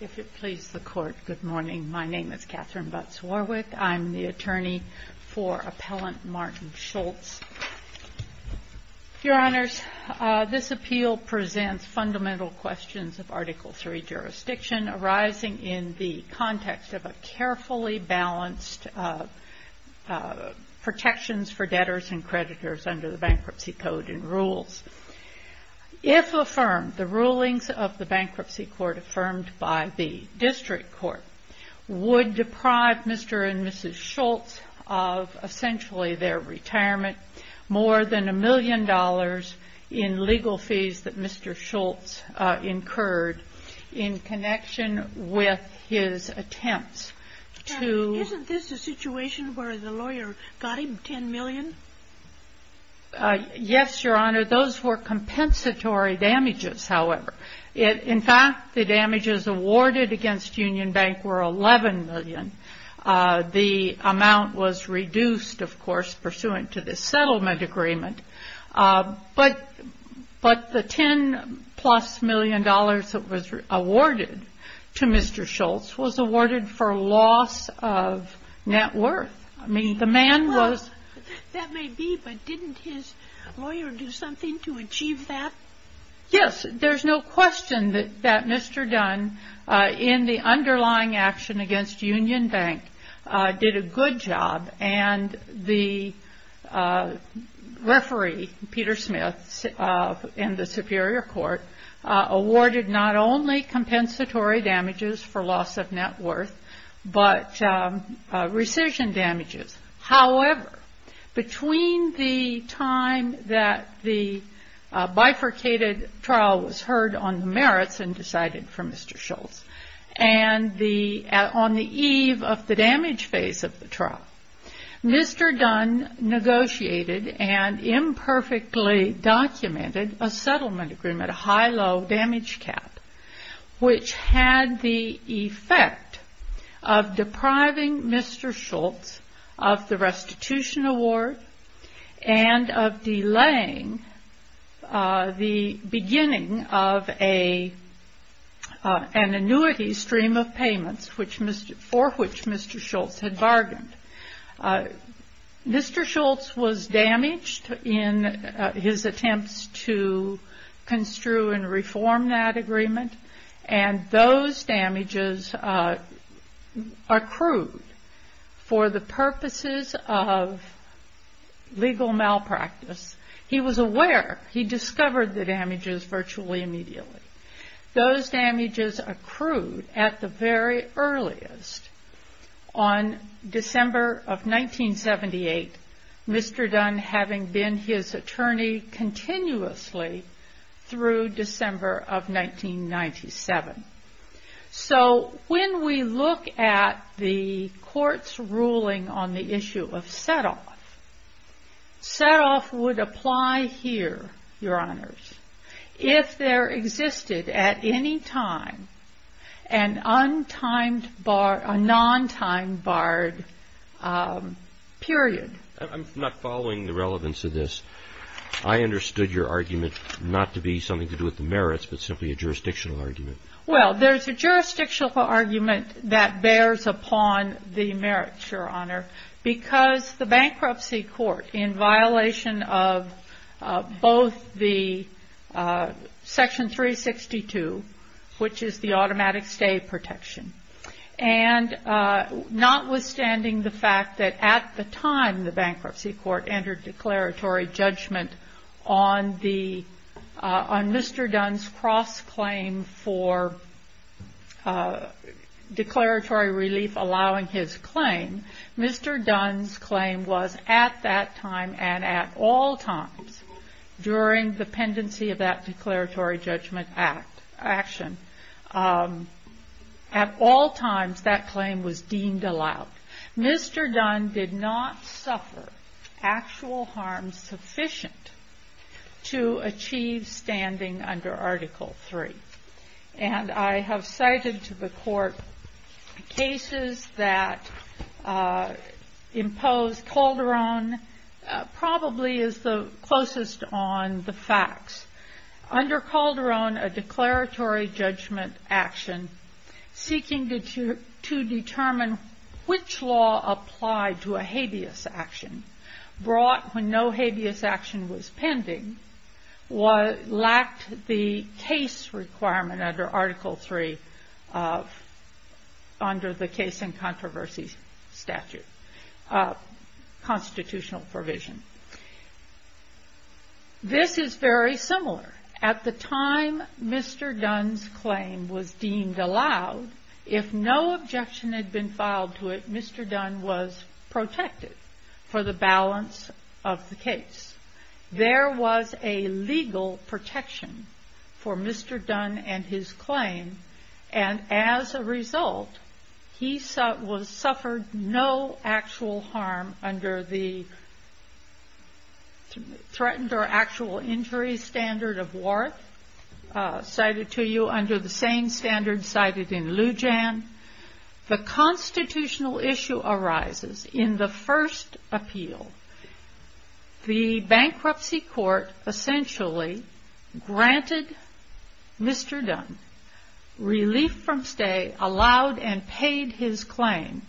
If it pleases the Court, good morning. My name is Katherine Butz-Warwick. I'm the attorney for Appellant Martin Schultz. Your Honors, this appeal presents fundamental questions of Article III jurisdiction arising in the context of a carefully balanced protections for debtors and creditors under the Bankruptcy Court affirmed by the District Court, would deprive Mr. and Mrs. Schultz of essentially their retirement, more than a million dollars in legal fees that Mr. Schultz incurred in connection with his attempts to... Isn't this a situation where the lawyer got him 10 million? Yes, Your Honor. Those were compensatory damages, however. In fact, the damages awarded against Union Bank were 11 million. The amount was reduced, of course, pursuant to the settlement agreement. But the 10 plus million dollars that was awarded to Mr. Schultz was awarded for loss of net worth. That may be, but didn't his lawyer do something to achieve that? Yes. There's no question that Mr. Dunne, in the underlying action against Union Bank, did a good job. And the referee, Peter Smith, in the Superior Court, awarded not only compensatory damages for loss of net worth, but rescission damages. However, between the time that the bifurcated trial was heard on the merits and decided for Mr. Schultz, and on the eve of the damage phase of the trial, Mr. Dunne negotiated and imperfectly documented a settlement agreement, a high-low damage cap, which had the effect of depriving Mr. Schultz of the restitution award and of delaying the beginning of an annuity stream of payments for which Mr. Schultz had bargained. Mr. Schultz was damaged in his attempts to construe and reform that agreement, and those damages accrued for the purposes of legal malpractice. He was aware. He discovered the damages virtually immediately. Those damages accrued at the very earliest on December of 1978, Mr. Dunne having been his attorney continuously through December of 1997. So when we look at the Court's ruling on the issue of set-off, set-off would apply here, Your Honors, if there existed at any time a non-timed barred period. I'm not following the relevance of this. I understood your argument not to be something to do with the merits, but simply a jurisdictional argument. Well, there's a jurisdictional argument that bears upon the merits, Your Honor, because the Bankruptcy Court, in violation of both the Section 362, which is the automatic stay protection, and notwithstanding the fact that at the time the Bankruptcy Court entered declaratory judgment on Mr. Dunne's cross-claim for declaratory relief allowing his claim, Mr. Dunne's claim was at that time and at all times during the pendency of that declaratory judgment action, at all times that claim was deemed allowed. Mr. Dunne did not suffer actual harm sufficient to achieve standing under Article III. And I have cited to the Court cases that impose Calderon probably is the closest on the facts. Under Calderon, a declaratory judgment action seeking to determine which law applied to a habeas action brought when no habeas action was pending lacked the case requirement under Article III under the Case and Controversy Statute, constitutional provision. This is very similar. At the time Mr. Dunne's claim was deemed allowed, if no objection had been filed to it, Mr. Dunne was protected for the balance of the case. There was a legal protection for Mr. Dunne and his claim, and as a result, he suffered no actual harm under the threatened or actual injury standard of Warth, cited to you under the same standard cited in Lujan. The constitutional issue arises in the first appeal. The bankruptcy court essentially granted Mr. Dunne relief from stay, allowed and paid his claim,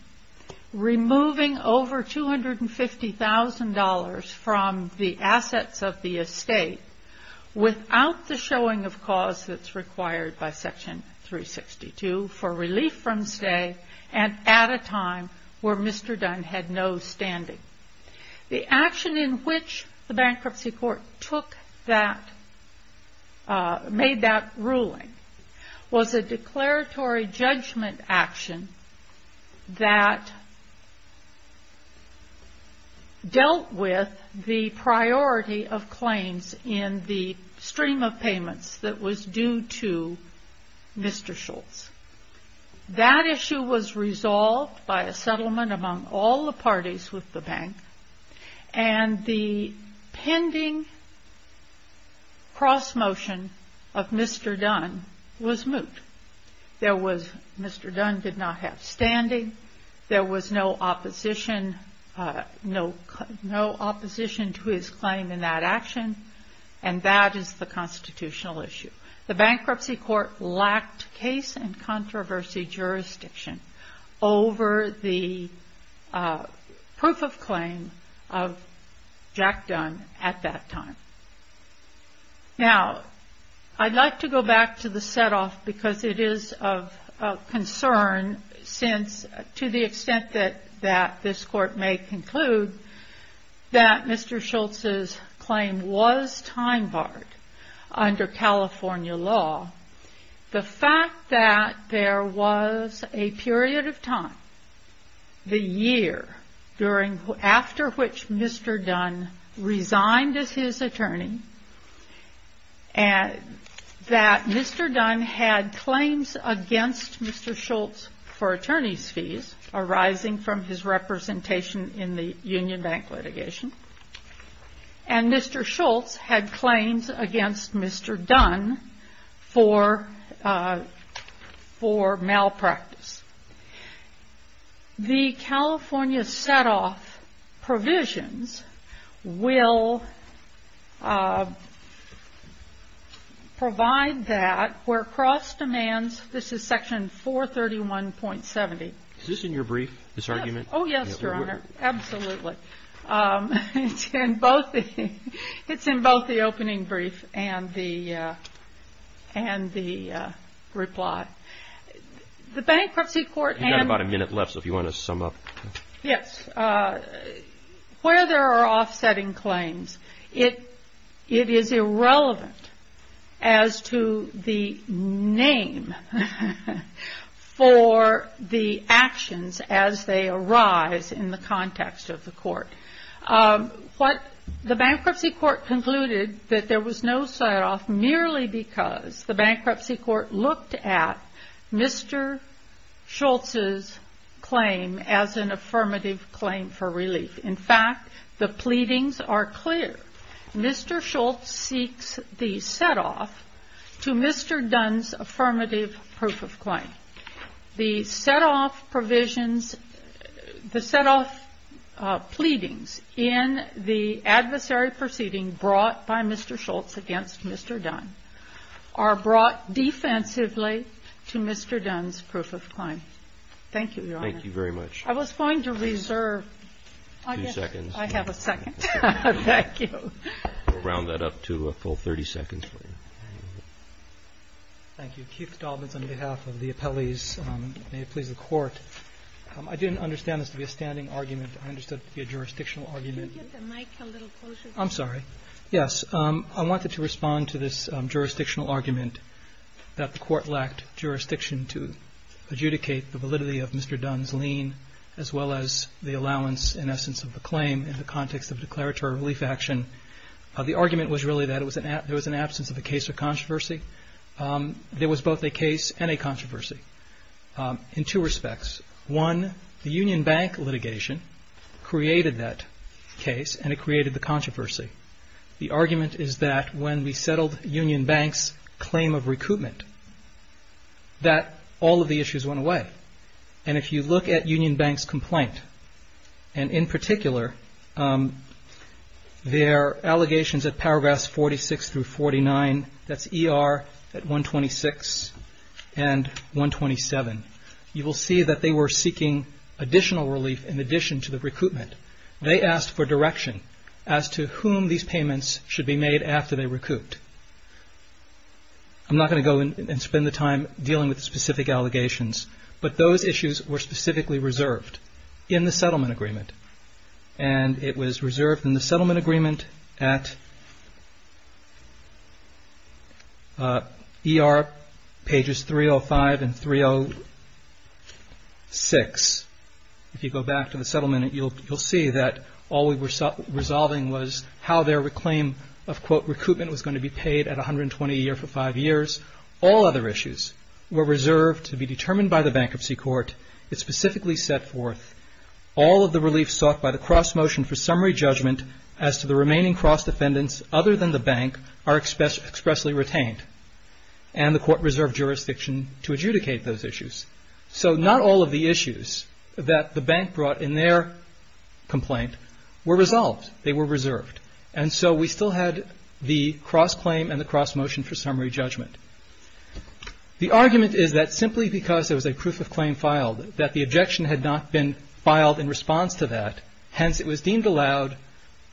removing over $250,000 from the assets of the estate without the showing of cause that's required by Section 362 for relief from stay and at a time where Mr. Dunne had no standing. The action in which the bankruptcy court made that ruling was a declaratory judgment action that dealt with the priority of claims in the stream of payments that was due to Mr. Schultz. That issue was resolved by a settlement among all the parties with the bank, and the pending cross-motion of Mr. Dunne was moot. Mr. Dunne did not have The bankruptcy court lacked case and controversy jurisdiction over the proof of claim of Jack Dunne at that time. Now, I'd like to go back to the set-off because it is of concern since to the extent that this court may conclude that Mr. Schultz's claim was time-barred under California law, the fact that there was a period of time, the year after which Mr. Dunne resigned as his attorney, that Mr. Dunne had claims against Mr. Schultz for attorney's fees arising from his representation in the union bank litigation, and Mr. Schultz had claims against Mr. Dunne for malpractice. The California set-off provisions will provide that where cross-demands This is section 431.70. Is this in your brief, this argument? Oh, yes, Your Honor, absolutely. It's in both the opening brief and the reply. You've got about a minute left, so if you want to sum up. Yes. Where there are offsetting claims, it is irrelevant as to the for the actions as they arise in the context of the court. The bankruptcy court concluded that there was no set-off merely because the bankruptcy court looked at Mr. Schultz's claim as an affirmative claim for relief. In fact, the pleadings are clear. Mr. Schultz seeks the set-off to Mr. Dunne's affirmative proof of claim. The set-off provisions, the set-off pleadings in the adversary proceeding brought by Mr. Schultz against Mr. Dunne are brought defensively to Mr. Dunne's proof of claim. Thank you, Your Honor. Thank you very much. I was going to reserve. Two seconds. I have a second. Thank you. We'll round that up to a full 30 seconds for you. Thank you. Keith Dobbins on behalf of the appellees. May it please the Court. I didn't understand this to be a standing argument. I understood it to be a jurisdictional argument. Could you get the mic a little closer? I'm sorry. I wanted to respond to this jurisdictional argument that the Court lacked jurisdiction to adjudicate the validity of Mr. Dunne's lien, as well as the allowance in essence of the claim in the context of declaratory relief action. The argument was really that there was an absence of a case of controversy. There was both a case and a controversy in two respects. One, the Union Bank litigation created that case, and it created the controversy. The argument is that when we settled Union Bank's claim of recoupment, that all of the issues went away. And if you look at Union Bank's complaint, and in particular, their allegations at paragraphs 46 through 49, that's ER at 126 and 127, you will see that they were seeking additional relief in addition to the recoupment. They asked for direction as to whom these payments should be made after they recouped. I'm not going to go and spend the time dealing with specific allegations, but those issues were specifically reserved in the settlement agreement, and it was reserved in the settlement agreement at ER pages 305 and 306. If you go back to the settlement, you'll see that all we were resolving was how their claim of, quote, recoupment was going to be paid at 120 a year for five years. All other issues were reserved to be determined by the bankruptcy court. It specifically set forth all of the relief sought by the cross motion for summary judgment as to the remaining cross defendants other than the bank are expressly retained, and the court reserved jurisdiction to adjudicate those issues. So not all of the issues that the bank brought in their complaint were resolved. They were reserved. And so we still had the cross claim and the cross motion for summary judgment. The argument is that simply because there was a proof of claim filed, that the objection had not been filed in response to that, hence it was deemed allowed,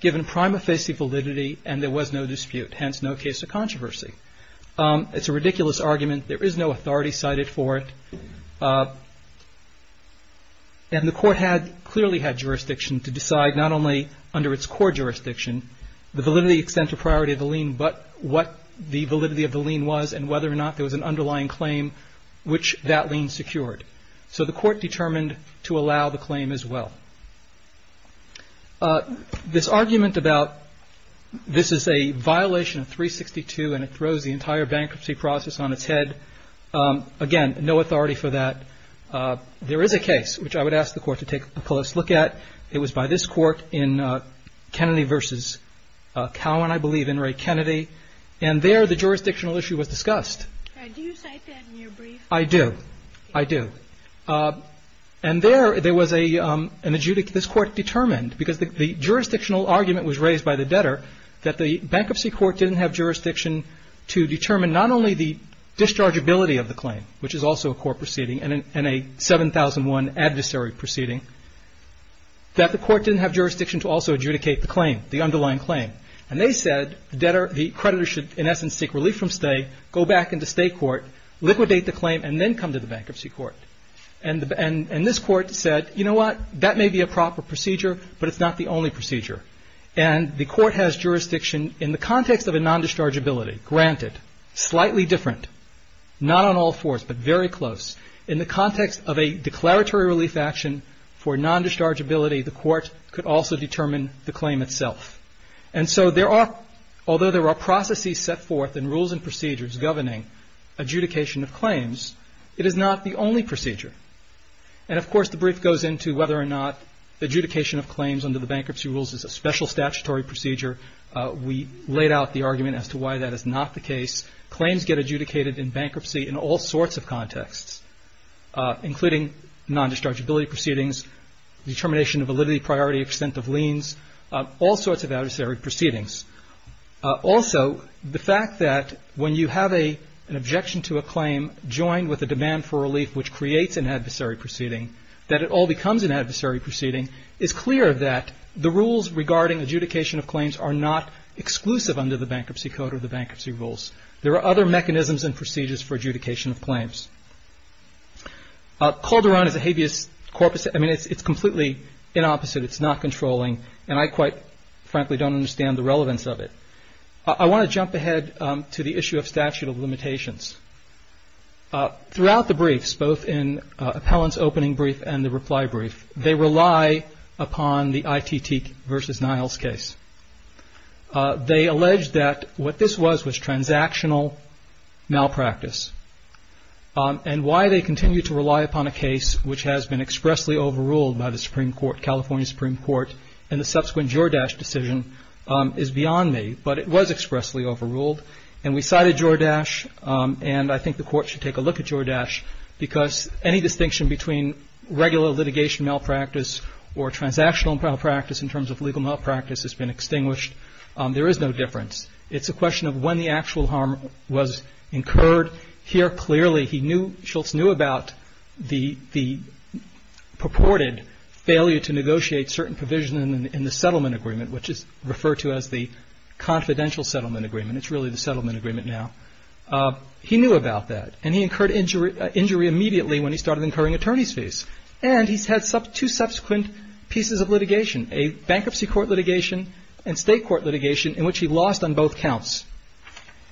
given prima facie validity, and there was no dispute, hence no case of controversy. It's a ridiculous argument. There is no authority cited for it. And the court had clearly had jurisdiction to decide not only under its core jurisdiction, the validity extent of priority of the lien, but what the validity of the lien was and whether or not there was an underlying claim which that lien secured. So the court determined to allow the claim as well. This argument about this is a violation of 362 and it throws the entire bankruptcy process on its head, again, no authority for that. There is a case which I would ask the Court to take a close look at. It was by this Court in Kennedy v. Cowan, I believe, In re Kennedy. And there the jurisdictional issue was discussed. I do. I do. And there, there was an adjudicate, this court determined, because the jurisdictional argument was raised by the debtor, that the bankruptcy court didn't have jurisdiction to determine not only the dischargeability of the claim, which is also a core proceeding and a 7001 adversary proceeding, that the court didn't have jurisdiction to also adjudicate the claim, the underlying claim. And they said the creditor should, in essence, seek relief from stay, go back into state court, liquidate the claim, and then come to the bankruptcy court. And this court said, you know what, that may be a proper procedure, but it's not the only procedure. And the court has jurisdiction in the context of a non-dischargeability, granted, slightly different, not on all fours, but very close. In the context of a declaratory relief action for non-dischargeability, the court could also determine the claim itself. And so there are, although there are processes set forth in rules and procedures governing adjudication of claims, it is not the only procedure. And, of course, the brief goes into whether or not adjudication of claims under the bankruptcy rules is a special statutory procedure. We laid out the argument as to why that is not the case. Claims get adjudicated in bankruptcy in all sorts of contexts, including non-dischargeability proceedings, determination of validity, priority, extent of liens, all sorts of adversary proceedings. Also, the fact that when you have an objection to a claim joined with a demand for relief, which creates an adversary proceeding, that it all becomes an adversary proceeding, it's clear that the rules regarding adjudication of claims are not exclusive under the bankruptcy code or the bankruptcy rules. There are other mechanisms and procedures for adjudication of claims. Calderon is a habeas corpus. I mean, it's completely inopposite. It's not controlling. And I quite frankly don't understand the relevance of it. I want to jump ahead to the issue of statute of limitations. Throughout the briefs, both in appellant's opening brief and the reply brief, they rely upon the ITT versus Niles case. They allege that what this was was transactional malpractice. And why they continue to rely upon a case which has been expressly overruled by the Supreme Court, California Supreme Court, and the subsequent Jordache decision is beyond me. But it was expressly overruled. And we cited Jordache, and I think the Court should take a look at Jordache, because any distinction between regular litigation malpractice or transactional malpractice in terms of legal malpractice has been extinguished. There is no difference. It's a question of when the actual harm was incurred. Here, clearly, Schultz knew about the purported failure to negotiate certain provision in the settlement agreement, which is referred to as the confidential settlement agreement. It's really the settlement agreement now. He knew about that. And he incurred injury immediately when he started incurring attorney's fees. And he's had two subsequent pieces of litigation, a bankruptcy court litigation and state court litigation, in which he lost on both counts.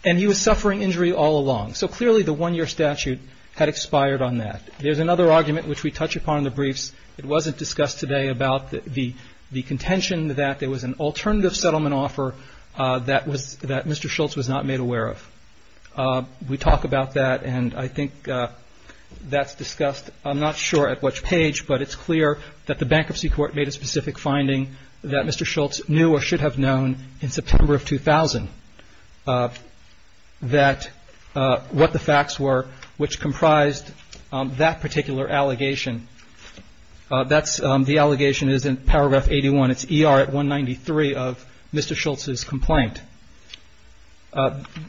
And he was suffering injury all along. So, clearly, the one-year statute had expired on that. There's another argument which we touch upon in the briefs. It wasn't discussed today about the contention that there was an alternative settlement offer that Mr. Schultz was not made aware of. We talk about that, and I think that's discussed. I'm not sure at which page, but it's clear that the bankruptcy court made a specific finding that Mr. Schultz knew or should have known in September of 2000, that what the facts were which comprised that particular allegation. That's the allegation is in paragraph 81. It's ER at 193 of Mr. Schultz's complaint.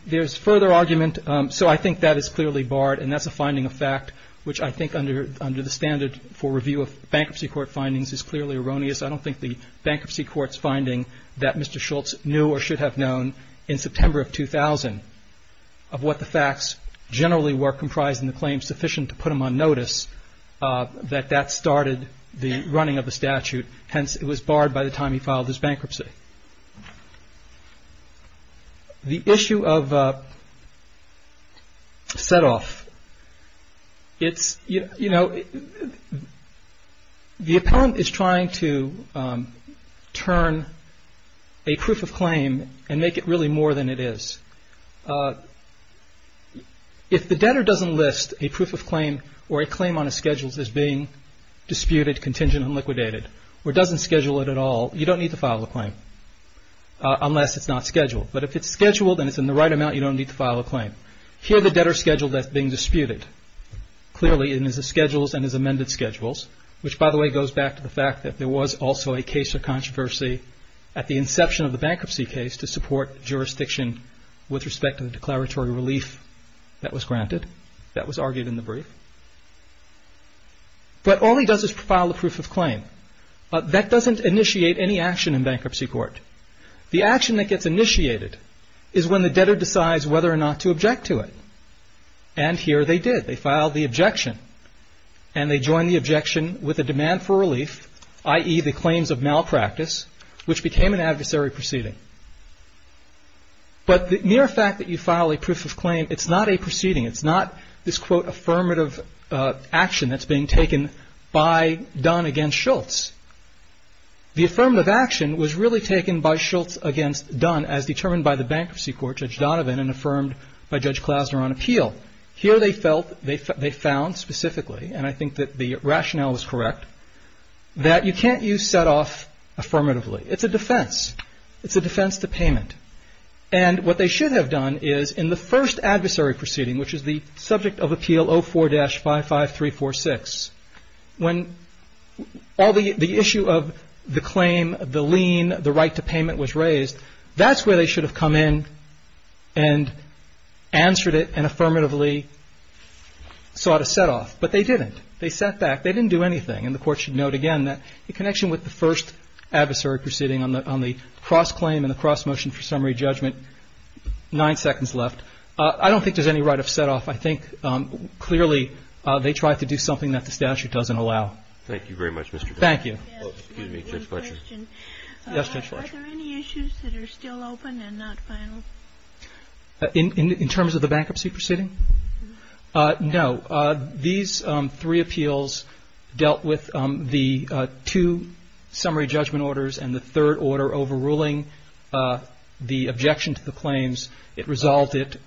There's further argument. So I think that is clearly barred, and that's a finding of fact, which I think under the standard for review of bankruptcy court findings is clearly erroneous. I don't think the bankruptcy court's finding that Mr. Schultz knew or should have known in September of 2000, of what the facts generally were comprising the claim sufficient to put him on notice, that that started the running of the statute. Hence, it was barred by the time he filed his bankruptcy. The issue of setoff, it's, you know, the appellant is trying to turn a proof of claim and make it really more than it is. If the debtor doesn't list a proof of claim or a claim on a schedule that's being disputed, contingent, or doesn't schedule it at all, you don't need to file a claim unless it's not scheduled. But if it's scheduled and it's in the right amount, you don't need to file a claim. Here the debtor's schedule that's being disputed clearly in his schedules and his amended schedules, which by the way goes back to the fact that there was also a case of controversy at the inception of the bankruptcy case to support jurisdiction with respect to the declaratory relief that was granted, that was argued in the brief. But all he does is file a proof of claim. That doesn't initiate any action in bankruptcy court. The action that gets initiated is when the debtor decides whether or not to object to it. And here they did. They filed the objection, and they joined the objection with a demand for relief, i.e., the claims of malpractice, which became an adversary proceeding. But the mere fact that you file a proof of claim, it's not a proceeding. It's not this, quote, affirmative action that's being taken by Dunn against Schultz. The affirmative action was really taken by Schultz against Dunn as determined by the bankruptcy court, Judge Donovan, and affirmed by Judge Klasner on appeal. Here they felt, they found specifically, and I think that the rationale is correct, that you can't use set-off affirmatively. It's a defense. It's a defense to payment. And what they should have done is, in the first adversary proceeding, which is the subject of Appeal 04-55346, when all the issue of the claim, the lien, the right to payment was raised, that's where they should have come in and answered it and affirmatively sought a set-off. But they didn't. They sat back. They didn't do anything. And the Court should note again that in connection with the first adversary proceeding on the cross-claim and the cross-motion for summary judgment, nine seconds left. I don't think there's any right of set-off. I think clearly they tried to do something that the statute doesn't allow. Thank you very much, Mr. Donovan. Thank you. Excuse me. Judge Fletcher. Yes, Judge Fletcher. Are there any issues that are still open and not final? In terms of the bankruptcy proceeding? No. These three appeals dealt with the two summary judgment orders and the third order overruling the objection to the claims. It resolved it.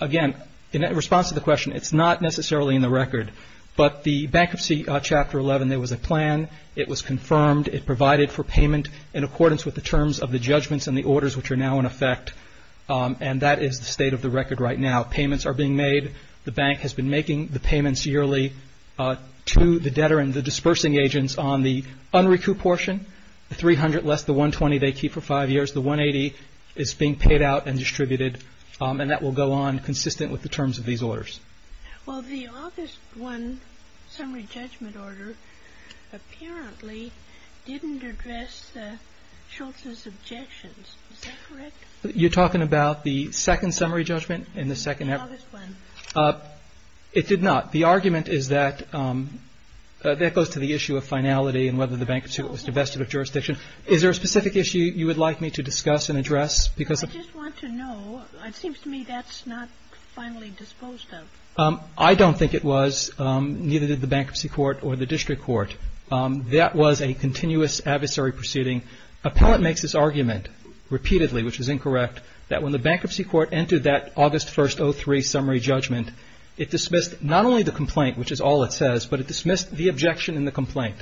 Again, in response to the question, it's not necessarily in the record. But the Bankruptcy Chapter 11, there was a plan. It was confirmed. It provided for payment in accordance with the terms of the judgments and the orders which are now in effect. And that is the state of the record right now. Payments are being made. The Bank has been making the payments yearly to the debtor and the dispersing agents on the unrecoup portion, the $300 less the $120 they keep for five years. The $180 is being paid out and distributed. And that will go on consistent with the terms of these orders. Well, the August 1 summary judgment order apparently didn't address Schultz's objections. Is that correct? You're talking about the second summary judgment in the second? It did not. The argument is that that goes to the issue of finality and whether the bankruptcy court was divested of jurisdiction. Is there a specific issue you would like me to discuss and address? I just want to know. It seems to me that's not finally disposed of. I don't think it was. Neither did the Bankruptcy Court or the District Court. That was a continuous adversary proceeding. Appellant makes this argument repeatedly, which is incorrect, that when the Bankruptcy Court entered that August 1, 2003, summary judgment, it dismissed not only the complaint, which is all it says, but it dismissed the objection and the complaint.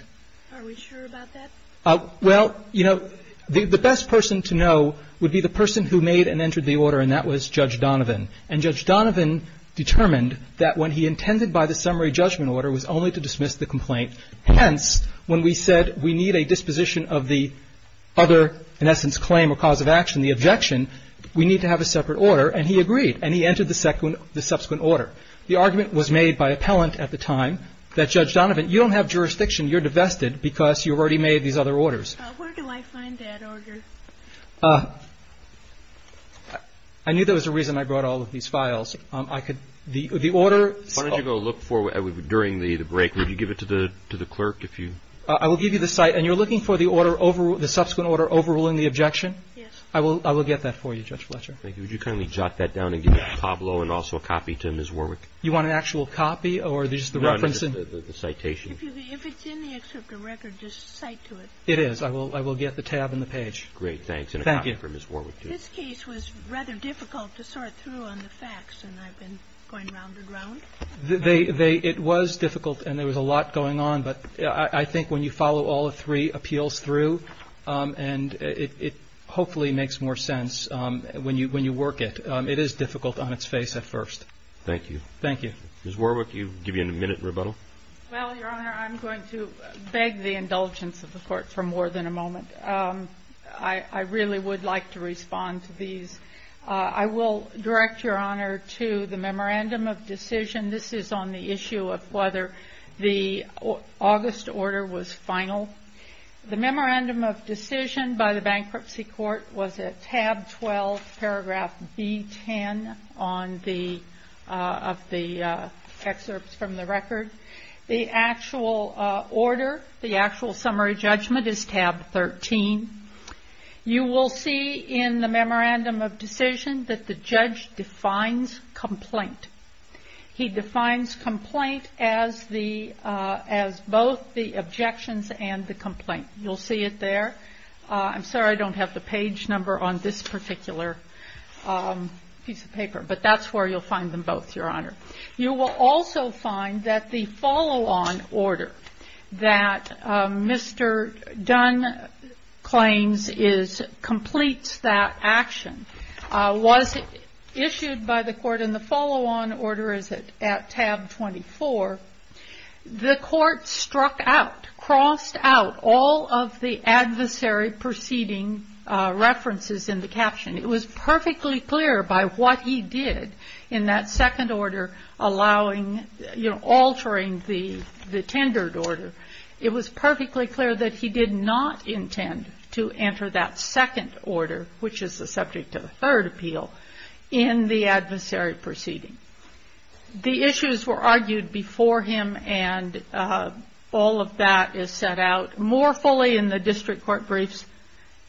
Are we sure about that? Well, you know, the best person to know would be the person who made and entered the order, and that was Judge Donovan. And Judge Donovan determined that when he intended by the summary judgment order was only to dismiss the complaint. Hence, when we said we need a disposition of the other, in essence, claim or cause of action, the objection, we need to have a separate order. And he agreed, and he entered the subsequent order. The argument was made by appellant at the time that, Judge Donovan, you don't have jurisdiction. You're divested because you've already made these other orders. Where do I find that order? I knew there was a reason I brought all of these files. The order – Why don't you go look for it during the break. Would you give it to the clerk if you – I will give you the site. And you're looking for the order, the subsequent order overruling the objection? Yes. I will get that for you, Judge Fletcher. Thank you. Would you kindly jot that down and give it to Pablo and also a copy to Ms. Warwick? You want an actual copy or just the reference? No, no. The citation. If it's in the excerpt of record, just cite to it. It is. I will get the tab and the page. Great. Thanks. And a copy for Ms. Warwick, too. Thank you. This case was rather difficult to sort through on the facts, and I've been going round and round. It was difficult, and there was a lot going on. But I think when you follow all three appeals through, and it hopefully makes more sense when you work it, it is difficult on its face at first. Thank you. Thank you. Ms. Warwick, you've given a minute rebuttal. Well, Your Honor, I'm going to beg the indulgence of the Court for more than a moment. I really would like to respond to these. I will direct, Your Honor, to the memorandum of decision. This is on the issue of whether the August order was final. The memorandum of decision by the Bankruptcy Court was at tab 12, paragraph B10 of the excerpts from the record. The actual order, the actual summary judgment, is tab 13. You will see in the memorandum of decision that the judge defines complaint. He defines complaint as the – as both the objections and the complaint. You'll see it there. I'm sorry I don't have the page number on this particular piece of paper. But that's where you'll find them both, Your Honor. You will also find that the follow-on order that Mr. Dunn claims is – completes that action was issued by the Court in the follow-on order, is it, at tab 24. The Court struck out, crossed out all of the adversary proceeding references in the caption. It was perfectly clear by what he did in that second order allowing – altering the tendered order. It was perfectly clear that he did not intend to enter that second order, which is the subject of the third appeal, in the adversary proceeding. The issues were argued before him and all of that is set out more fully in the district court briefs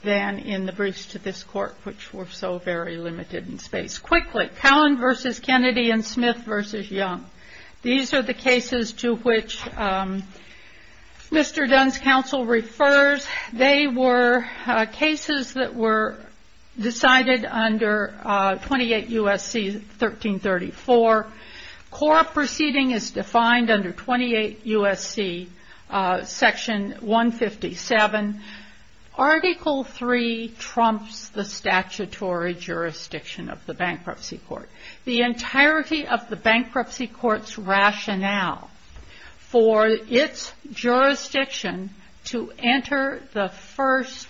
than in the briefs to this court, which were so very limited in space. Just quickly, Cowan v. Kennedy and Smith v. Young. These are the cases to which Mr. Dunn's counsel refers. They were cases that were decided under 28 U.S.C. 1334. Core proceeding is defined under 28 U.S.C. section 157. Article III trumps the statutory jurisdiction of the bankruptcy court. The entirety of the bankruptcy court's rationale for its jurisdiction to enter the first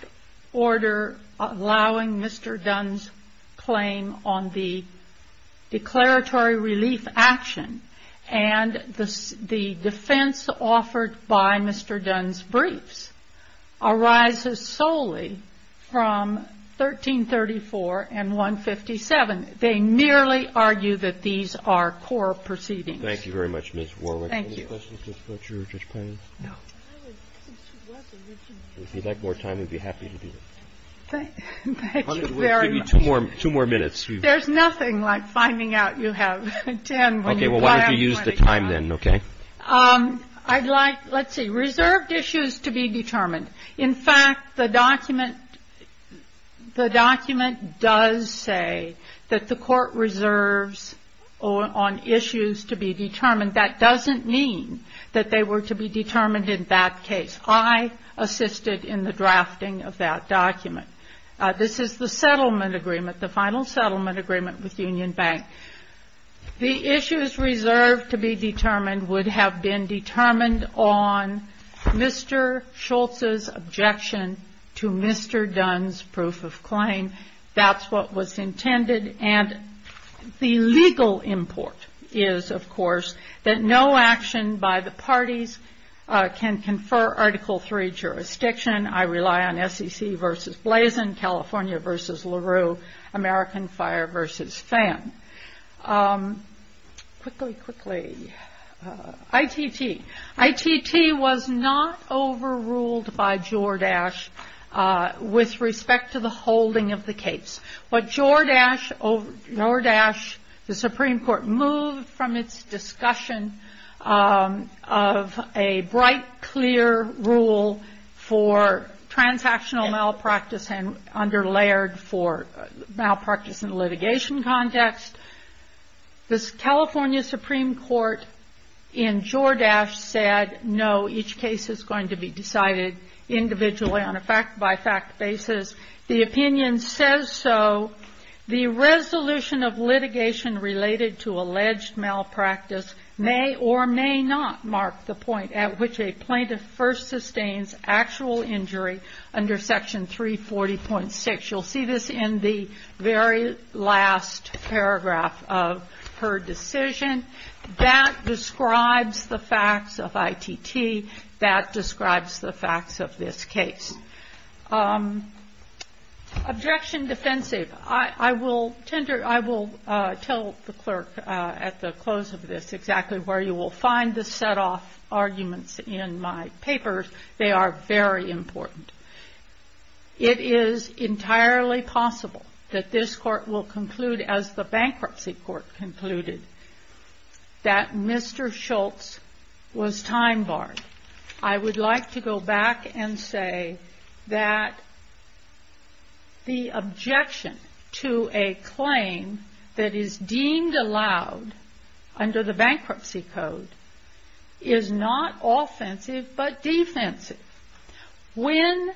order allowing Mr. Dunn's claim on the declaratory relief action and the defense offered by Mr. Dunn's briefs arises solely from 1334 and 157. They merely argue that these are core proceedings. Roberts. Thank you very much, Ms. Warwick. Warwick. Thank you. Any questions, Judge Blucher, Judge Payne? No. If you'd like more time, we'd be happy to do it. Thank you very much. We'll give you two more minutes. There's nothing like finding out you have ten when you buy out twenty-five. Well, why don't you use the time then, okay? I'd like – let's see. Reserved issues to be determined. In fact, the document does say that the court reserves on issues to be determined. That doesn't mean that they were to be determined in that case. I assisted in the drafting of that document. This is the settlement agreement, the final settlement agreement with Union Bank. The issues reserved to be determined would have been determined on Mr. Schultz's objection to Mr. Dunn's proof of claim. That's what was intended, and the legal import is, of course, that no action by the parties can confer Article III jurisdiction. I rely on SEC versus Blazin, California versus LaRue, American Fire versus FAM. Quickly, quickly. ITT. ITT was not overruled by Jordache with respect to the holding of the case. But Jordache, the Supreme Court moved from its discussion of a bright, clear rule for transactional malpractice and underlayered for malpractice in litigation context. The California Supreme Court in Jordache said, no, each case is going to be decided individually on a fact-by-fact basis. The opinion says so. The resolution of litigation related to alleged malpractice may or may not mark the point at which a plaintiff first sustains actual injury under Section 340.6. You'll see this in the very last paragraph of her decision. That describes the facts of ITT. That describes the facts of this case. Objection defensive. I will tell the clerk at the close of this exactly where you will find the set-off arguments in my papers. They are very important. It is entirely possible that this Court will conclude, as the Bankruptcy Court concluded, that Mr. Schultz was time-barred. I would like to go back and say that the objection to a claim that is deemed allowed under the Bankruptcy Code is not offensive but defensive. When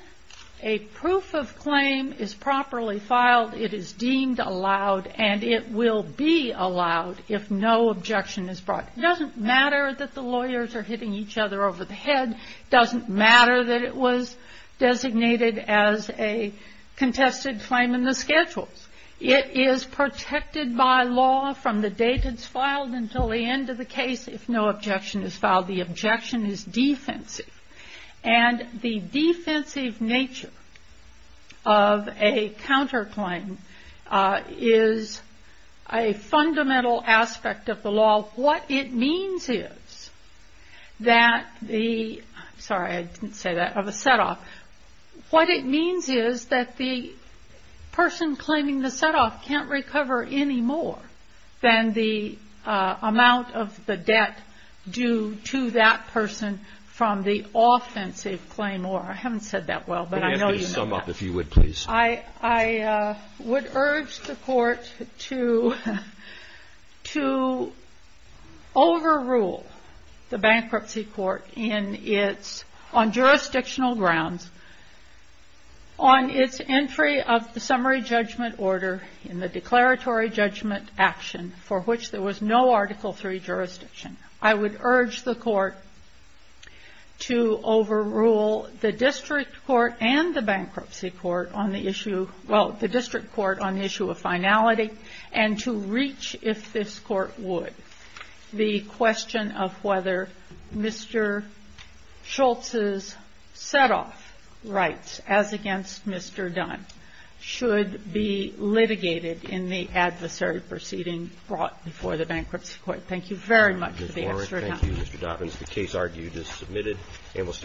a proof of claim is properly filed, it is deemed allowed and it will be allowed if no objection is brought. It doesn't matter that the lawyers are hitting each other over the head. It doesn't matter that it was designated as a contested claim in the schedules. It is protected by law from the date it's filed until the end of the case if no objection is filed. The objection is defensive. The defensive nature of a counterclaim is a fundamental aspect of the law. What it means is that the person claiming the set-off can't recover any more than the amount of the debt due to that person from the offensive claim or I haven't said that well, but I know you know that. I would urge the Court to overrule the Bankruptcy Court on jurisdictional grounds on its entry of the summary judgment order in the declaratory judgment action for which there was no Article III jurisdiction. I would urge the Court to overrule the District Court and the Bankruptcy Court on the issue, well, the District Court on the issue of finality and to reach, if this Court would, the question of whether Mr. Schultz's set-off rights, as against Mr. Dunn, should be litigated in the adversary proceeding brought before the Bankruptcy Court. Thank you very much for the extra time. Thank you, Mr. Dobbins. The case argued is submitted.